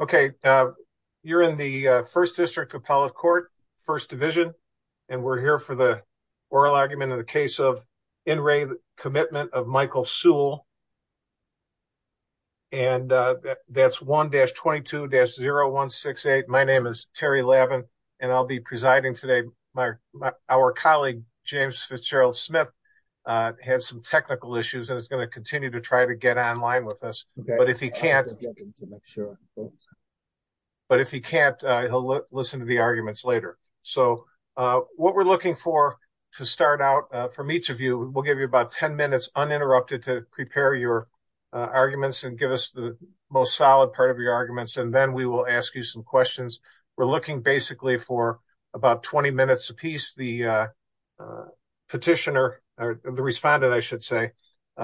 Okay, you're in the 1st district appellate court, 1st division. And we're here for the oral argument in the case of. In Ray, the commitment of Michael Sewell. And that's 1 dash 22 dash 0168. My name is Terry 11. And I'll be presiding today. My our colleague, James Fitzgerald Smith. Has some technical issues, and it's going to continue to try to get online with us. But if he can't. But if he can't, he'll listen to the arguments later. So what we're looking for. To start out from each of you, we'll give you about 10 minutes uninterrupted to prepare your. Arguments and give us the most solid part of your arguments, and then we will ask you some questions. We're looking basically for about 20 minutes apiece the. Petitioner, or the respondent, I should say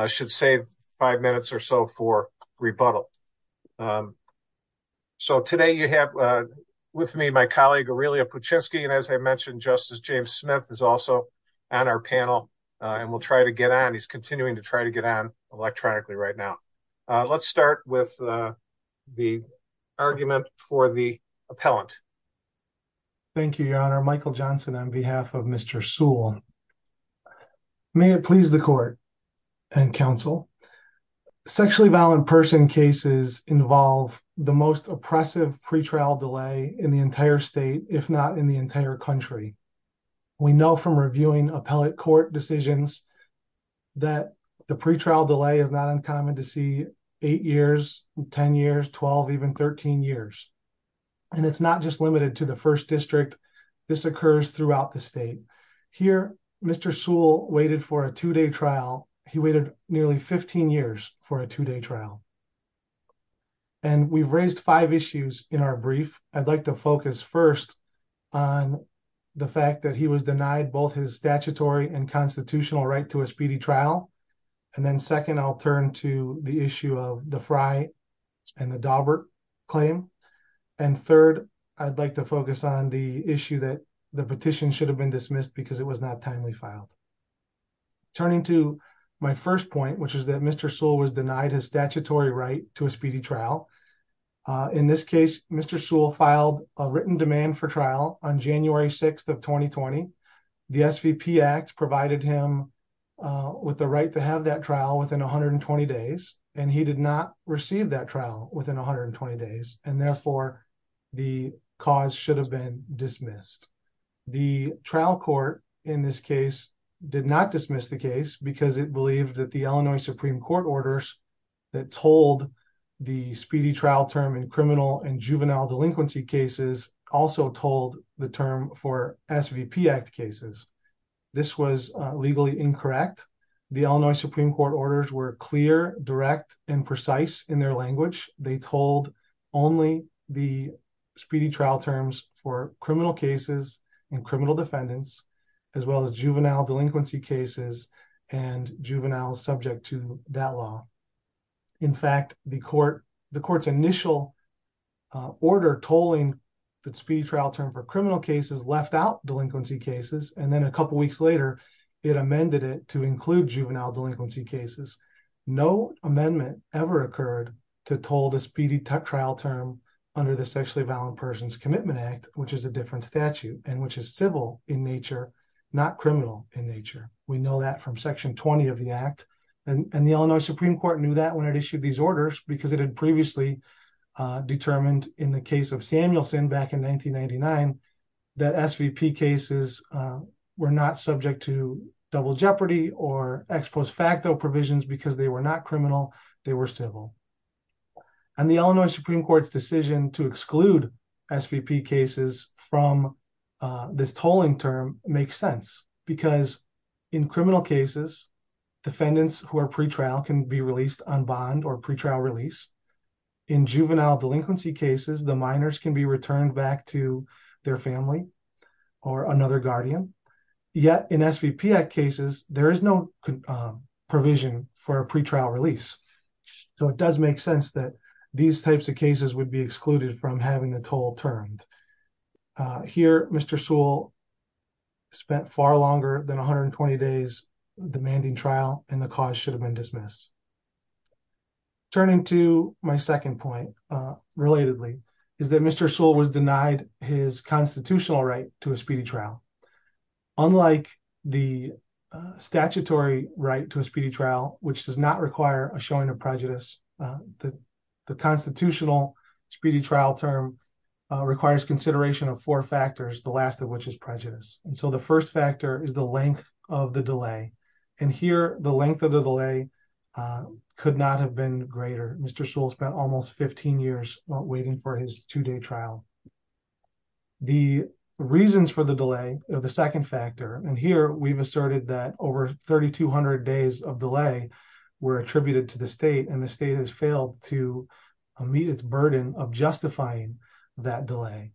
should save 5 minutes or so for rebuttal. So, today you have with me, my colleague, and as I mentioned, justice, James Smith is also. On our panel, and we'll try to get on. He's continuing to try to get on electronically right now. Let's start with the argument for the appellant. Thank you, your honor Michael Johnson on behalf of Mr. soul. May it please the court and counsel. Sexually violent person cases involve the most oppressive pre trial delay in the entire state. If not in the entire country. We know from reviewing appellate court decisions. That the pre trial delay is not uncommon to see 8 years, 10 years, 12, even 13 years. And it's not just limited to the 1st district. This occurs throughout the state here. Mr. soul waited for a 2 day trial. He waited nearly 15 years for a 2 day trial. And we've raised 5 issues in our brief. I'd like to focus 1st. On the fact that he was denied both his statutory and constitutional right to a speedy trial. And then 2nd, I'll turn to the issue of the fry. And the claim, and 3rd, I'd like to focus on the issue that the petition should have been dismissed because it was not timely filed. Turning to my 1st point, which is that Mr. soul was denied his statutory right to a speedy trial. In this case, Mr. soul filed a written demand for trial on January 6th of 2020. The act provided him with the right to have that trial within 120 days, and he did not receive that trial within 120 days. And therefore. The cause should have been dismissed. The trial court in this case did not dismiss the case because it believed that the Illinois Supreme Court orders. That told the speedy trial term in criminal and juvenile delinquency cases also told the term for SVP act cases. This was legally incorrect. The Illinois Supreme Court orders were clear, direct and precise in their language. They told only the. Speedy trial terms for criminal cases and criminal defendants. As well as juvenile delinquency cases and juveniles subject to that law. In fact, the court, the court's initial. Order tolling the speech trial term for criminal cases left out delinquency cases and then a couple of weeks later, it amended it to include juvenile delinquency cases. No amendment ever occurred to told a speedy trial term under the sexually violent persons commitment act, which is a different statute and which is civil in nature, not criminal in nature. We know that from section 20 of the act, and the Illinois Supreme Court knew that when it issued these orders, because it had previously determined in the case of Samuelson back in 1999. That SVP cases were not subject to double jeopardy or ex post facto provisions because they were not criminal. They were civil. And the Illinois Supreme Court's decision to exclude SVP cases from this tolling term makes sense because in criminal cases. Defendants who are pre trial can be released on bond or pre trial release in juvenile delinquency cases, the minors can be returned back to their family. Or another guardian yet in SVP cases, there is no provision for a pre trial release, so it does make sense that these types of cases would be excluded from having the toll turned. Here, Mr. Sewell spent far longer than 120 days demanding trial and the cause should have been dismissed. Turning to my second point, relatedly, is that Mr. Sewell was denied his constitutional right to a speedy trial. Unlike the statutory right to a speedy trial, which does not require a showing of prejudice that the constitutional speedy trial term. requires consideration of four factors, the last of which is prejudice, and so the first factor is the length of the delay and here the length of the delay. could not have been greater Mr Sewell spent almost 15 years waiting for his two day trial. The reasons for the delay of the second factor, and here we've asserted that over 3200 days of delay were attributed to the state and the state has failed to meet its burden of justifying that delay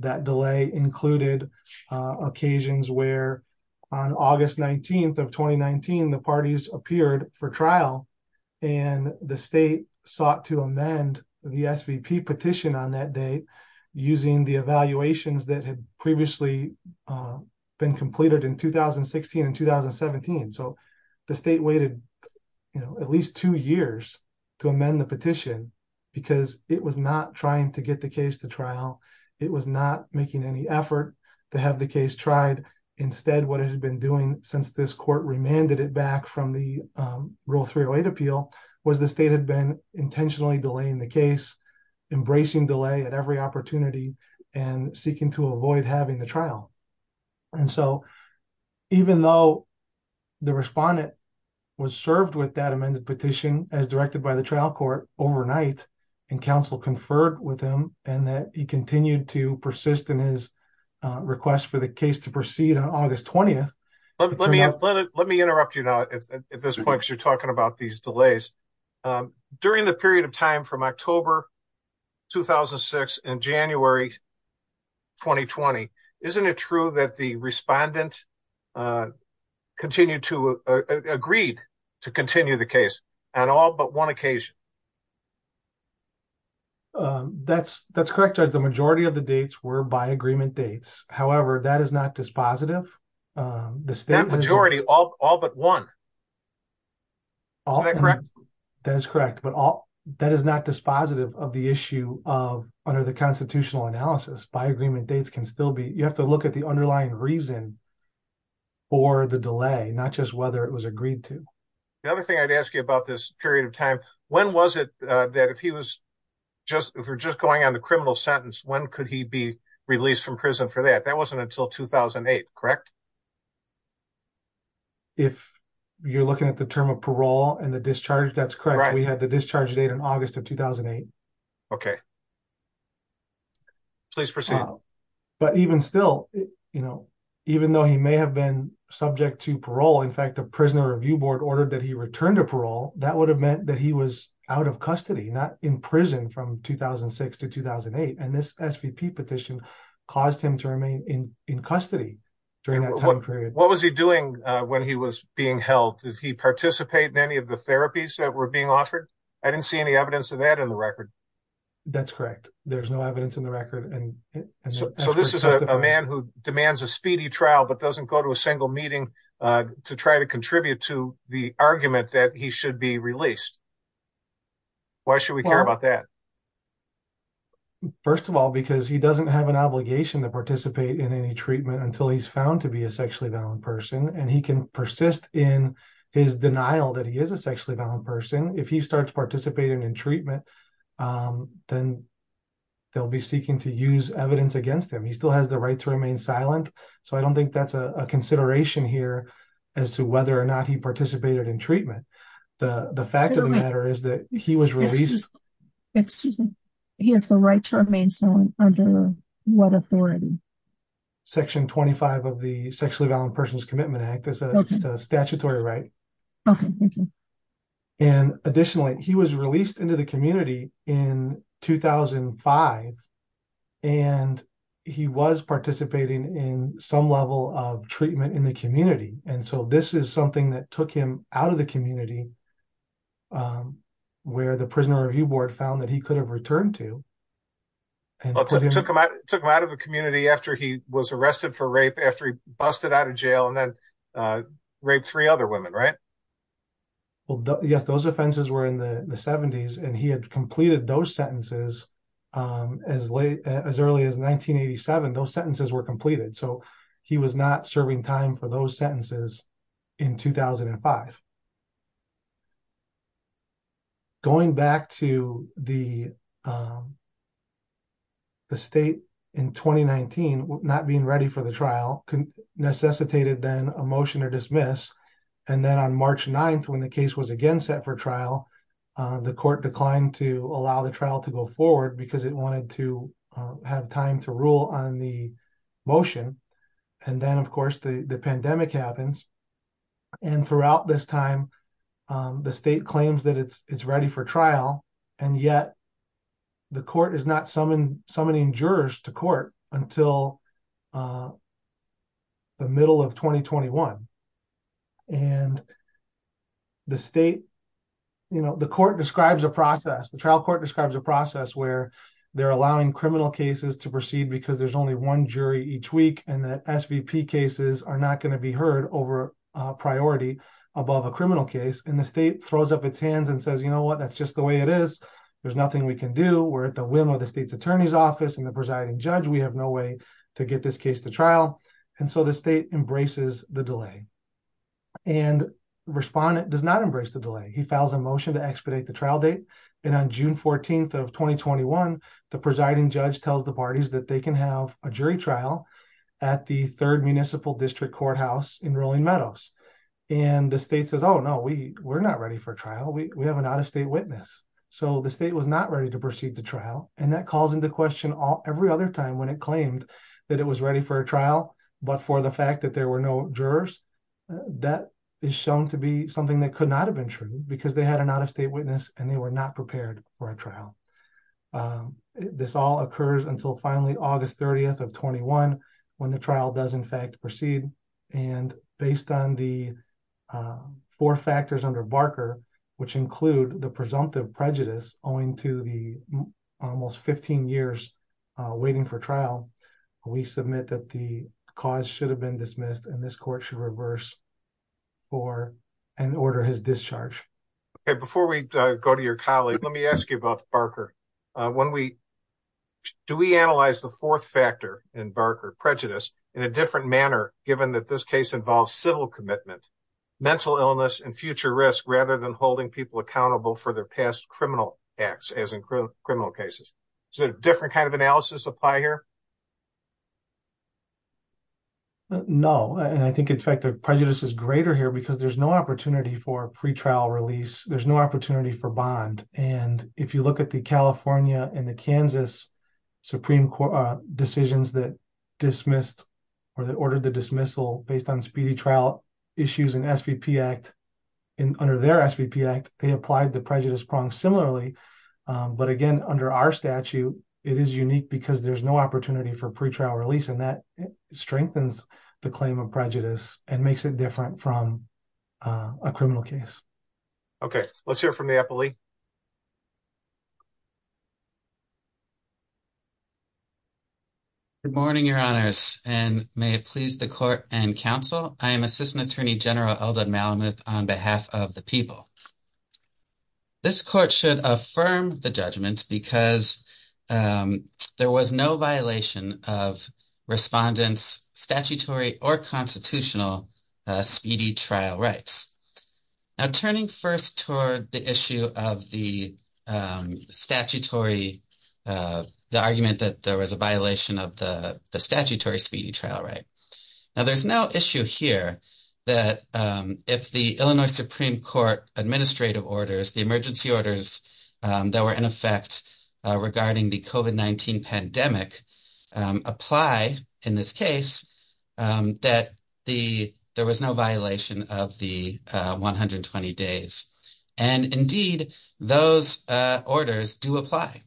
that delay included occasions where on August 19 of 2019 the parties appeared for trial and the state sought to amend the SVP petition on that date. Using the evaluations that had previously been completed in 2016 and 2017 so the state waited. You know, at least two years to amend the petition, because it was not trying to get the case to trial, it was not making any effort to have the case tried. Instead, what has been doing since this court remanded it back from the rule 308 appeal was the state had been intentionally delaying the case. Embracing delay at every opportunity and seeking to avoid having the trial, and so, even though the respondent was served with that amended petition as directed by the trial court overnight and counsel conferred with him and that he continued to persist in his request for the case to proceed on August 20. Let me let me interrupt you now at this point, you're talking about these delays during the period of time from October. 2006 in January 2020, isn't it true that the respondent. Continue to agreed to continue the case. And all but 1 occasion, that's that's correct. The majority of the dates were by agreement dates. However, that is not dispositive. The majority all all, but 1. That is correct, but all that is not dispositive of the issue of under the constitutional analysis by agreement dates can still be you have to look at the underlying reason. For the delay, not just whether it was agreed to. The other thing I'd ask you about this period of time, when was it that if he was. Just if we're just going on the criminal sentence, when could he be released from prison for that? That wasn't until 2008. Correct. If you're looking at the term of parole and the discharge, that's correct. We had the discharge date in August of 2008. Okay, please proceed. But even still, even though he may have been subject to parole, in fact, the prisoner review board ordered that he returned to parole. That would have meant that he was out of custody, not in prison from 2006 to 2008. And this petition caused him to remain in custody. During that time period, what was he doing when he was being held? Does he participate in any of the therapies that were being offered? I didn't see any evidence of that in the record. That's correct. There's no evidence in the record. And so this is a man who demands a speedy trial, but doesn't go to a single meeting to try to contribute to the argument that he should be released. Why should we care about that? First of all, because he doesn't have an obligation to participate in any treatment until he's found to be a sexually violent person, and he can persist in his denial that he is a sexually violent person. If he starts participating in treatment, then they'll be seeking to use evidence against him. He still has the right to remain silent. So I don't think that's a consideration here as to whether or not he participated in treatment. The fact of the matter is that he was released. Excuse me, he has the right to remain silent under what authority? Section 25 of the Sexually Violent Persons Commitment Act is a statutory right. Okay, and additionally, he was released into the community in 2005. And he was participating in some level of treatment in the community. And so this is something that took him out of the community. Where the prisoner review board found that he could have returned to. Took him out of the community after he was arrested for rape after he busted out of jail and then. Rape 3 other women, right? Well, yes, those offenses were in the 70s and he had completed those sentences. As late as early as 1987, those sentences were completed, so he was not serving time for those sentences. In 2005, going back to the. The state in 2019, not being ready for the trial can necessitated then a motion to dismiss and then on March 9th when the case was again set for trial. The court declined to allow the trial to go forward because it wanted to have time to rule on the. Motion and then, of course, the pandemic happens. And throughout this time, the state claims that it's ready for trial. And yet the court is not summoned. Summoning jurors to court until. The middle of 2021. And the state. You know, the court describes a process. The trial court describes a process where they're allowing criminal cases to proceed because there's only 1 jury each week and that cases are not going to be heard over a priority above a criminal case. And the state throws up its hands and says, you know what? That's just the way it is. There's nothing we can do. We're at the whim of the state's attorney's office and the presiding judge. We have no way to get this case to trial. And so the state embraces the delay and respondent does not embrace the delay. He files a motion to expedite the trial date. And on June 14th of 2021, the presiding judge tells the parties that they can have a jury trial. At the 3rd Municipal District Courthouse in Rolling Meadows and the state says, oh, no, we we're not ready for trial. We have an out of state witness. So the state was not ready to proceed to trial. And that calls into question all every other time when it claimed that it was ready for a trial. But for the fact that there were no jurors that is shown to be something that could not have been true because they had an out of state witness and they were not prepared for a trial. This all occurs until finally August 30th of 21 when the trial does, in fact, proceed. And based on the four factors under Barker, which include the presumptive prejudice owing to the almost 15 years waiting for trial, we submit that the cause should have been dismissed and this court should reverse for an order his discharge. Before we go to your colleague, let me ask you about Barker. When we do we analyze the 4th factor in Barker prejudice in a different manner, given that this case involves civil commitment. Mental illness and future risk rather than holding people accountable for their past criminal acts as in criminal cases. So different kind of analysis apply here. No, and I think, in fact, the prejudice is greater here because there's no opportunity for pretrial release. There's no opportunity for bond. And if you look at the California and the Kansas Supreme Court decisions that dismissed. Or they ordered the dismissal based on speedy trial issues and act. And under their act, they applied the prejudice prong similarly. But again, under our statute, it is unique because there's no opportunity for pretrial release and that strengthens the claim of prejudice and makes it different from a criminal case. Okay, let's hear from the. Good morning, your honors and may it please the court and counsel. I am assistant attorney general on behalf of the people. This court should affirm the judgment because there was no violation of respondents statutory or constitutional trial rights. Now, turning 1st toward the issue of the statutory, the argument that there was a violation of the statutory speedy trial, right? Now, there's no issue here that if the Illinois Supreme Court administrative orders, the emergency orders that were in effect regarding the COVID-19 pandemic. Apply in this case that the there was no violation of the 120 days. And indeed, those orders do apply.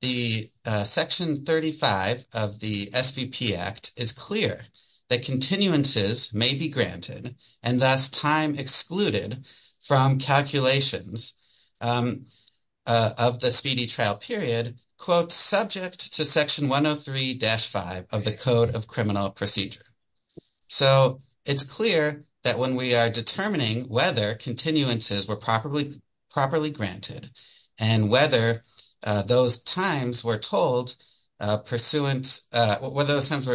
The section 35 of the act is clear that continuances may be granted and thus time excluded from calculations. Of the speedy trial period, quote, subject to section 1 of 3 dash 5 of the code of criminal procedure. So, it's clear that when we are determining whether continuances were properly, properly granted and whether those times were told pursuant, whether those times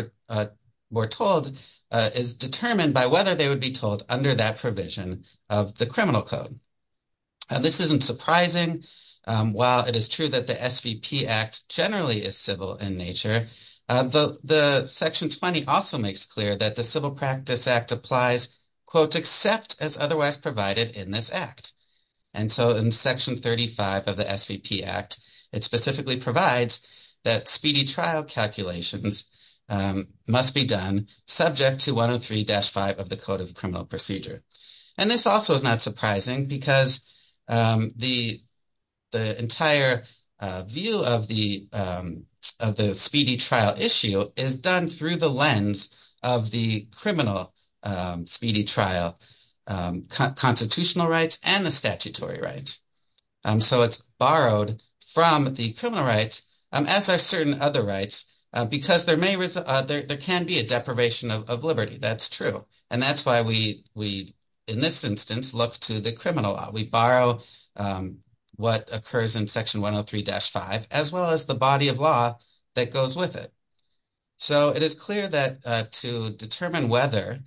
were told is determined by whether they would be told under that provision of the criminal code. This isn't surprising. While it is true that the act generally is civil in nature, the section 20 also makes clear that the civil practice act applies quote, except as otherwise provided in this act. And so, in section 35 of the act, it specifically provides that speedy trial calculations must be done subject to 1 of 3 dash 5 of the code of criminal procedure. And this also is not surprising because the entire view of the speedy trial issue is done through the lens of the criminal speedy trial constitutional rights and the statutory rights. So, it's borrowed from the criminal rights as are certain other rights because there can be a deprivation of liberty. That's true. And that's why we, in this instance, look to the criminal law. We borrow what occurs in section 1 of 3 dash 5 as well as the body of law that goes with it. So, it is clear that to determine whether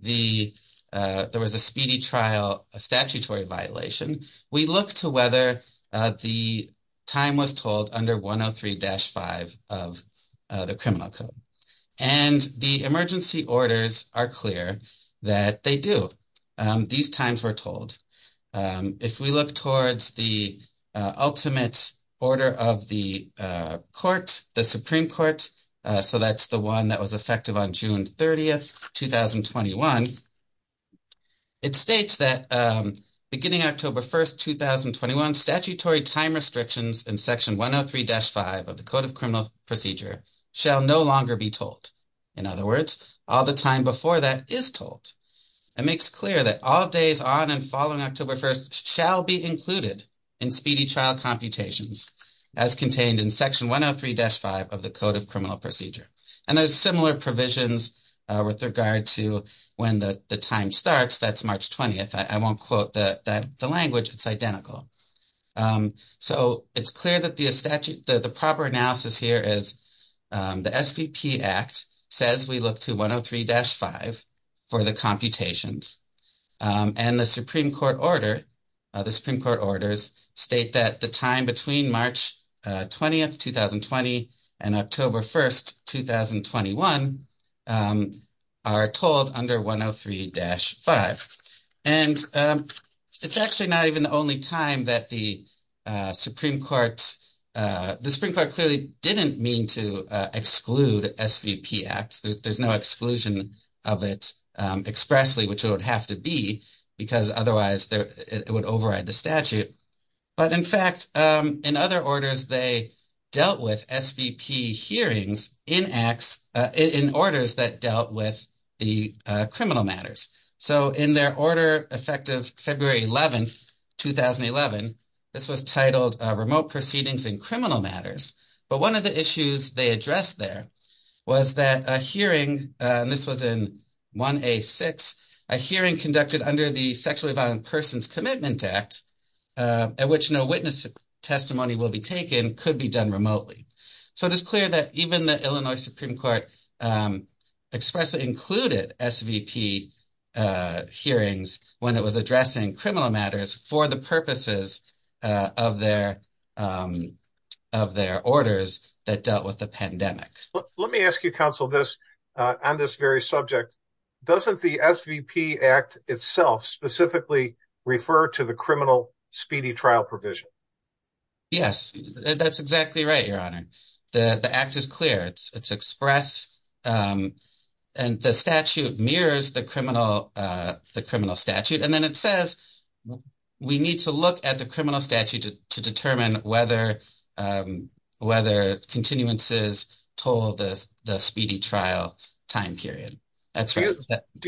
there was a speedy trial, a statutory violation, we look to whether the time was told under 1 of 3 dash 5 of the criminal code. And the emergency orders are clear that they do. These times were told. If we look towards the ultimate order of the court, the Supreme Court, so that's the one that was effective on June 30th, 2021. It states that beginning October 1st, 2021, statutory time restrictions in section 1 of 3 dash 5 of the code of criminal procedure shall no longer be told. In other words, all the time before that is told. It makes clear that all days on and following October 1st shall be included in speedy trial computations as contained in section 1 of 3 dash 5 of the code of criminal procedure. And there's similar provisions with regard to when the time starts. That's March 20th. I won't quote the language. It's identical. So, it's clear that the proper analysis here is the SVP Act says we look to 1 of 3 dash 5 for the computations. And the Supreme Court order, the Supreme Court orders state that the time between March 20th, 2020 and October 1st, 2021 are told under 1 of 3 dash 5. And it's actually not even the only time that the Supreme Court, the Supreme Court clearly didn't mean to exclude SVP Act. There's no exclusion of it expressly, which it would have to be because otherwise it would override the statute. But in fact, in other orders, they dealt with SVP hearings in orders that dealt with the criminal matters. So, in their order effective February 11th, 2011, this was titled Remote Proceedings in Criminal Matters. But one of the issues they addressed there was that a hearing, and this was in 1A6, a hearing conducted under the Sexually Violent Persons Commitment Act, at which no witness testimony will be taken, could be done remotely. So, it is clear that even the Illinois Supreme Court expressly included SVP hearings when it was addressing criminal matters for the purposes of their orders that dealt with the pandemic. Let me ask you, counsel, this on this very subject. Doesn't the SVP Act itself specifically refer to the criminal speedy trial provision? Yes, that's exactly right, Your Honor. The Act is clear. It's expressed, and the statute mirrors the criminal statute. And then it says we need to look at the criminal statute to determine whether continuances toll the speedy trial time period. Do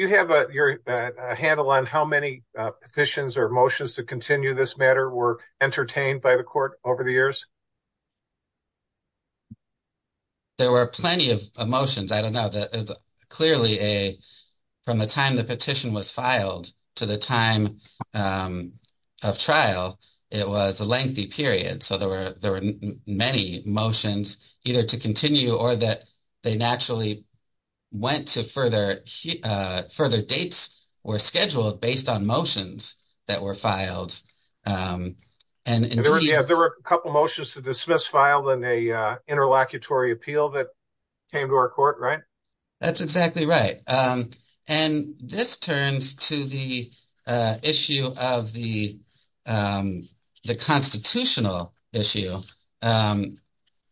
you have a handle on how many petitions or motions to continue this matter were entertained by the court over the years? There were plenty of motions. I don't know. Clearly, from the time the petition was filed to the time of trial, it was a lengthy period. So, there were many motions either to continue or that they naturally went to further dates were scheduled based on motions that were filed. And there were a couple of motions to dismiss filed in a interlocutory appeal that came to our court, right? That's exactly right. And this turns to the issue of the constitutional issue,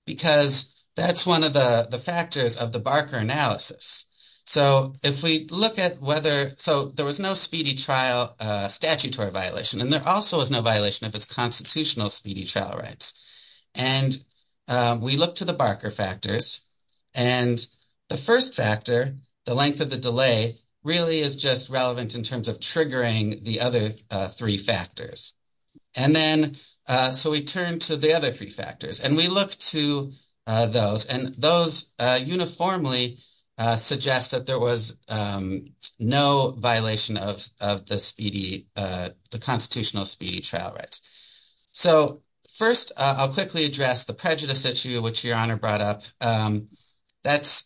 because that's one of the factors of the Barker analysis. So, if we look at whether—so, there was no speedy trial statutory violation, and there also was no violation of its constitutional speedy trial rights. And we look to the Barker factors, and the first factor, the length of the delay, really is just relevant in terms of triggering the other three factors. And then—so, we turn to the other three factors, and we look to those, and those uniformly suggest that there was no violation of the constitutional speedy trial rights. So, first, I'll quickly address the prejudice issue, which Your Honor brought up. That's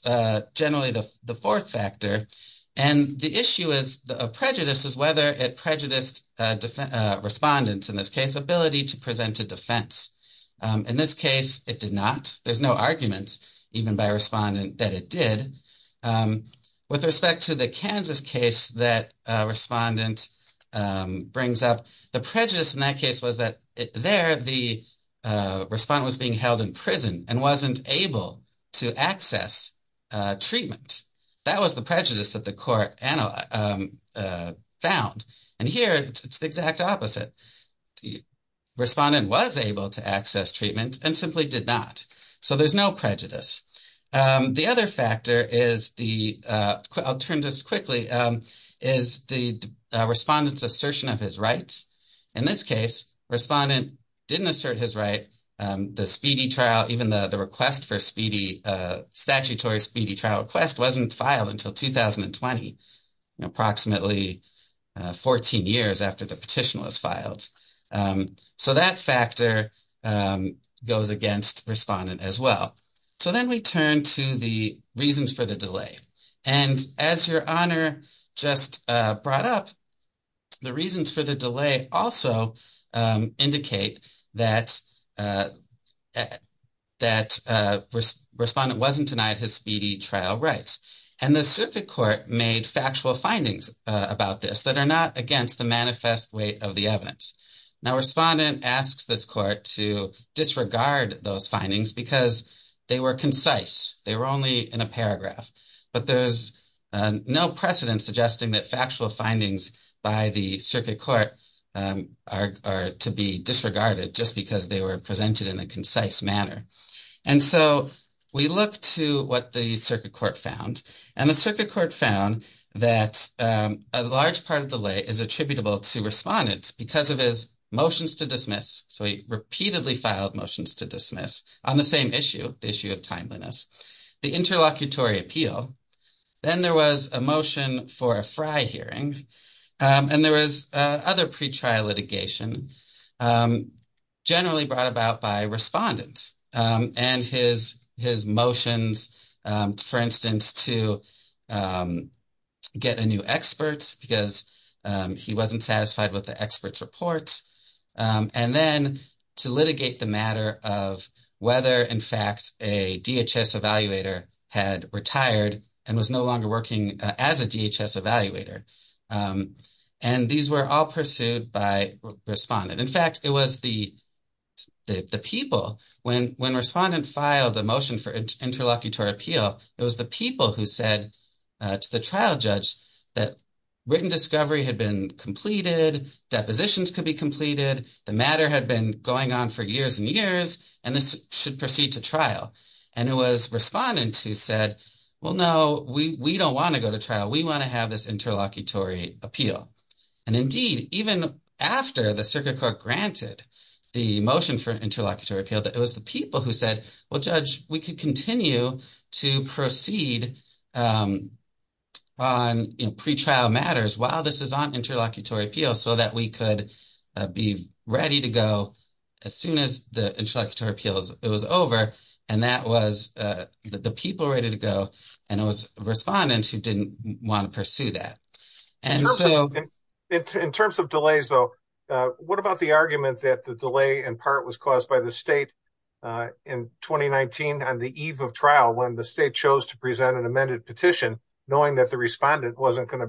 generally the fourth factor, and the issue of prejudice is whether it prejudiced respondents, in this case, ability to present a defense. In this case, it did not. There's no argument, even by a respondent, that it did. With respect to the Kansas case that a respondent brings up, the prejudice in that case was that there, the respondent was being held in prison and wasn't able to access treatment. That was the prejudice that the court found. And here, it's the exact opposite. Respondent was able to access treatment and simply did not. So, there's no prejudice. The other factor is the—I'll turn just quickly—is the respondent's assertion of his rights. In this case, respondent didn't assert his right. The speedy trial, even the request for speedy, statutory speedy trial request, wasn't filed until 2020, approximately 14 years after the petition was filed. So, that factor goes against respondent as well. So, then we turn to the reasons for the delay. And as Your Honor just brought up, the reasons for the delay also indicate that respondent wasn't denied his speedy trial rights. And the circuit court made factual findings about this that are not against the manifest weight of the evidence. Now, respondent asks this court to disregard those findings because they were concise. They were only in a paragraph. But there's no precedent suggesting that factual findings by the circuit court are to be disregarded just because they were presented in a concise manner. And so, we look to what the circuit court found. And the circuit court found that a large part of the delay is attributable to respondent because of his motions to dismiss. So, he repeatedly filed motions to dismiss on the same issue, the issue of timeliness, the interlocutory appeal. Then there was a motion for a FRI hearing. And there was other pretrial litigation generally brought about by respondent and his motions, for instance, to get a new expert because he wasn't satisfied with the expert's reports. And then to litigate the matter of whether, in fact, a DHS evaluator had retired and was no longer working as a DHS evaluator. And these were all pursued by respondent. In fact, it was the people. When respondent filed a motion for interlocutory appeal, it was the people who said to the trial judge that written discovery had been completed, depositions could be completed, the matter had been going on for years and years, and this should proceed to trial. And it was respondent who said, well, no, we don't want to go to trial. We want to have this interlocutory appeal. And indeed, even after the circuit court granted the motion for interlocutory appeal, it was the people who said, well, judge, we could continue to proceed on pretrial matters while this is on interlocutory appeal so that we could be ready to go as soon as the interlocutory appeal was over. And that was the people ready to go. And it was respondent who didn't want to pursue that. In terms of delays, though, what about the argument that the delay in part was caused by the state in 2019 on the eve of trial when the state chose to present an amended petition knowing that the respondent wasn't going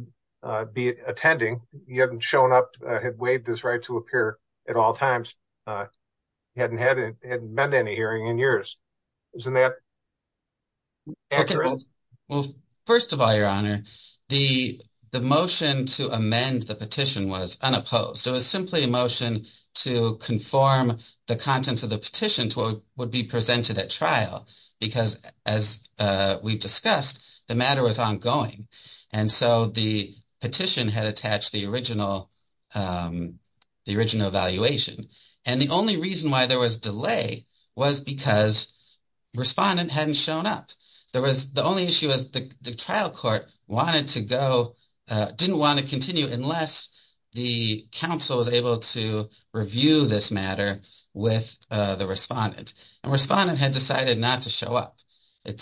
to be attending, he hadn't shown up, had waived his right to appear at all times, hadn't met any hearing in years. Isn't that accurate? Well, first of all, your honor, the motion to amend the petition was unopposed. It was simply a motion to conform the contents of the petition to what would be presented at trial because as we've discussed, the matter was ongoing. And so the petition had attached the original evaluation. And the only reason why there was delay was because respondent hadn't shown up. There was the only issue was the trial court wanted to go, didn't want to continue unless the council was able to review this matter with the respondent. And respondent had decided not to show up. I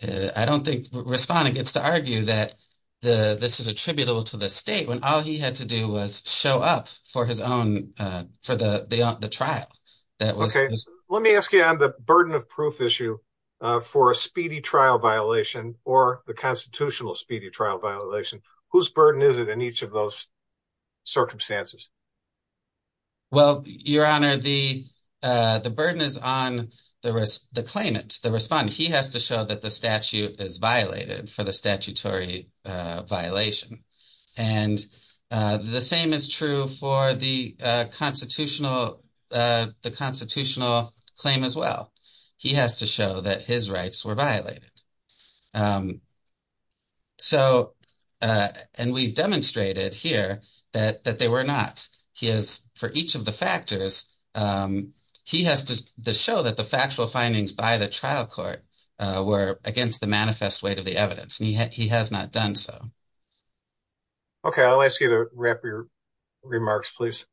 don't think respondent gets to argue that this is attributable to the state when all he had to do was show up for the trial. Okay, let me ask you on the burden of proof issue for a speedy trial violation or the constitutional speedy trial violation, whose burden is it in each of those circumstances? Well, your honor, the burden is on the claimant, the respondent. He has to show that the statute is violated for the statutory violation. And the same is true for the constitutional claim as well. He has to show that his rights were violated. And we demonstrated here that they were not. For each of the factors, he has to show that the factual findings by the trial court were against the manifest weight of the evidence. He has not done so. Okay, I'll ask you to wrap your remarks, please.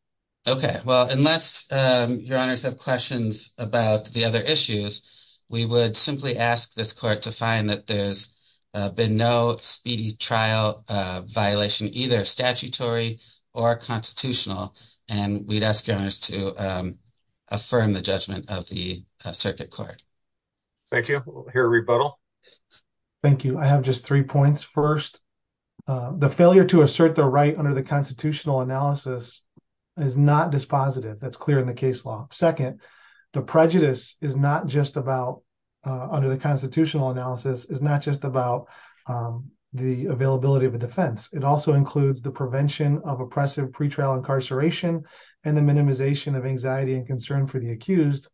Okay, well, unless your honors have questions about the other issues, we would simply ask this court to find that there's been no speedy trial violation, either statutory or constitutional. And we'd ask you to affirm the judgment of the circuit court. Thank you. I'll hear a rebuttal. Thank you. I have just three points. First, the failure to assert the right under the constitutional analysis is not dispositive. That's clear in the case law. Second, the prejudice is not just about, under the constitutional analysis, is not just about the availability of a defense. It also includes the prevention of oppressive pre-trial incarceration and the minimization of anxiety and concern for the accused.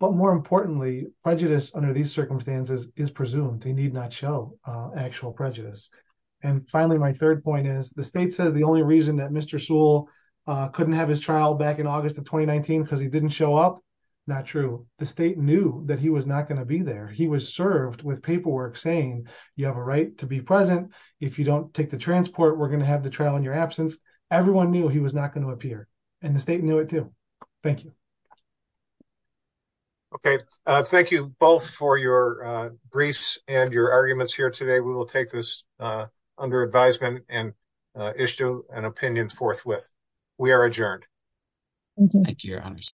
But more importantly, prejudice under these circumstances is presumed. They need not show actual prejudice. And finally, my third point is, the state says the only reason that Mr. Sewell couldn't have his trial back in August of 2019 because he didn't show up, not true. The state knew that he was not going to be there. He was served with paperwork saying, you have a right to be present. If you don't take the transport, we're going to have the trial in your absence. Everyone knew he was not going to be there. Thank you both for your briefs and your arguments here today. We will take this under advisement and issue an opinion forthwith. We are adjourned. Thank you, your honors.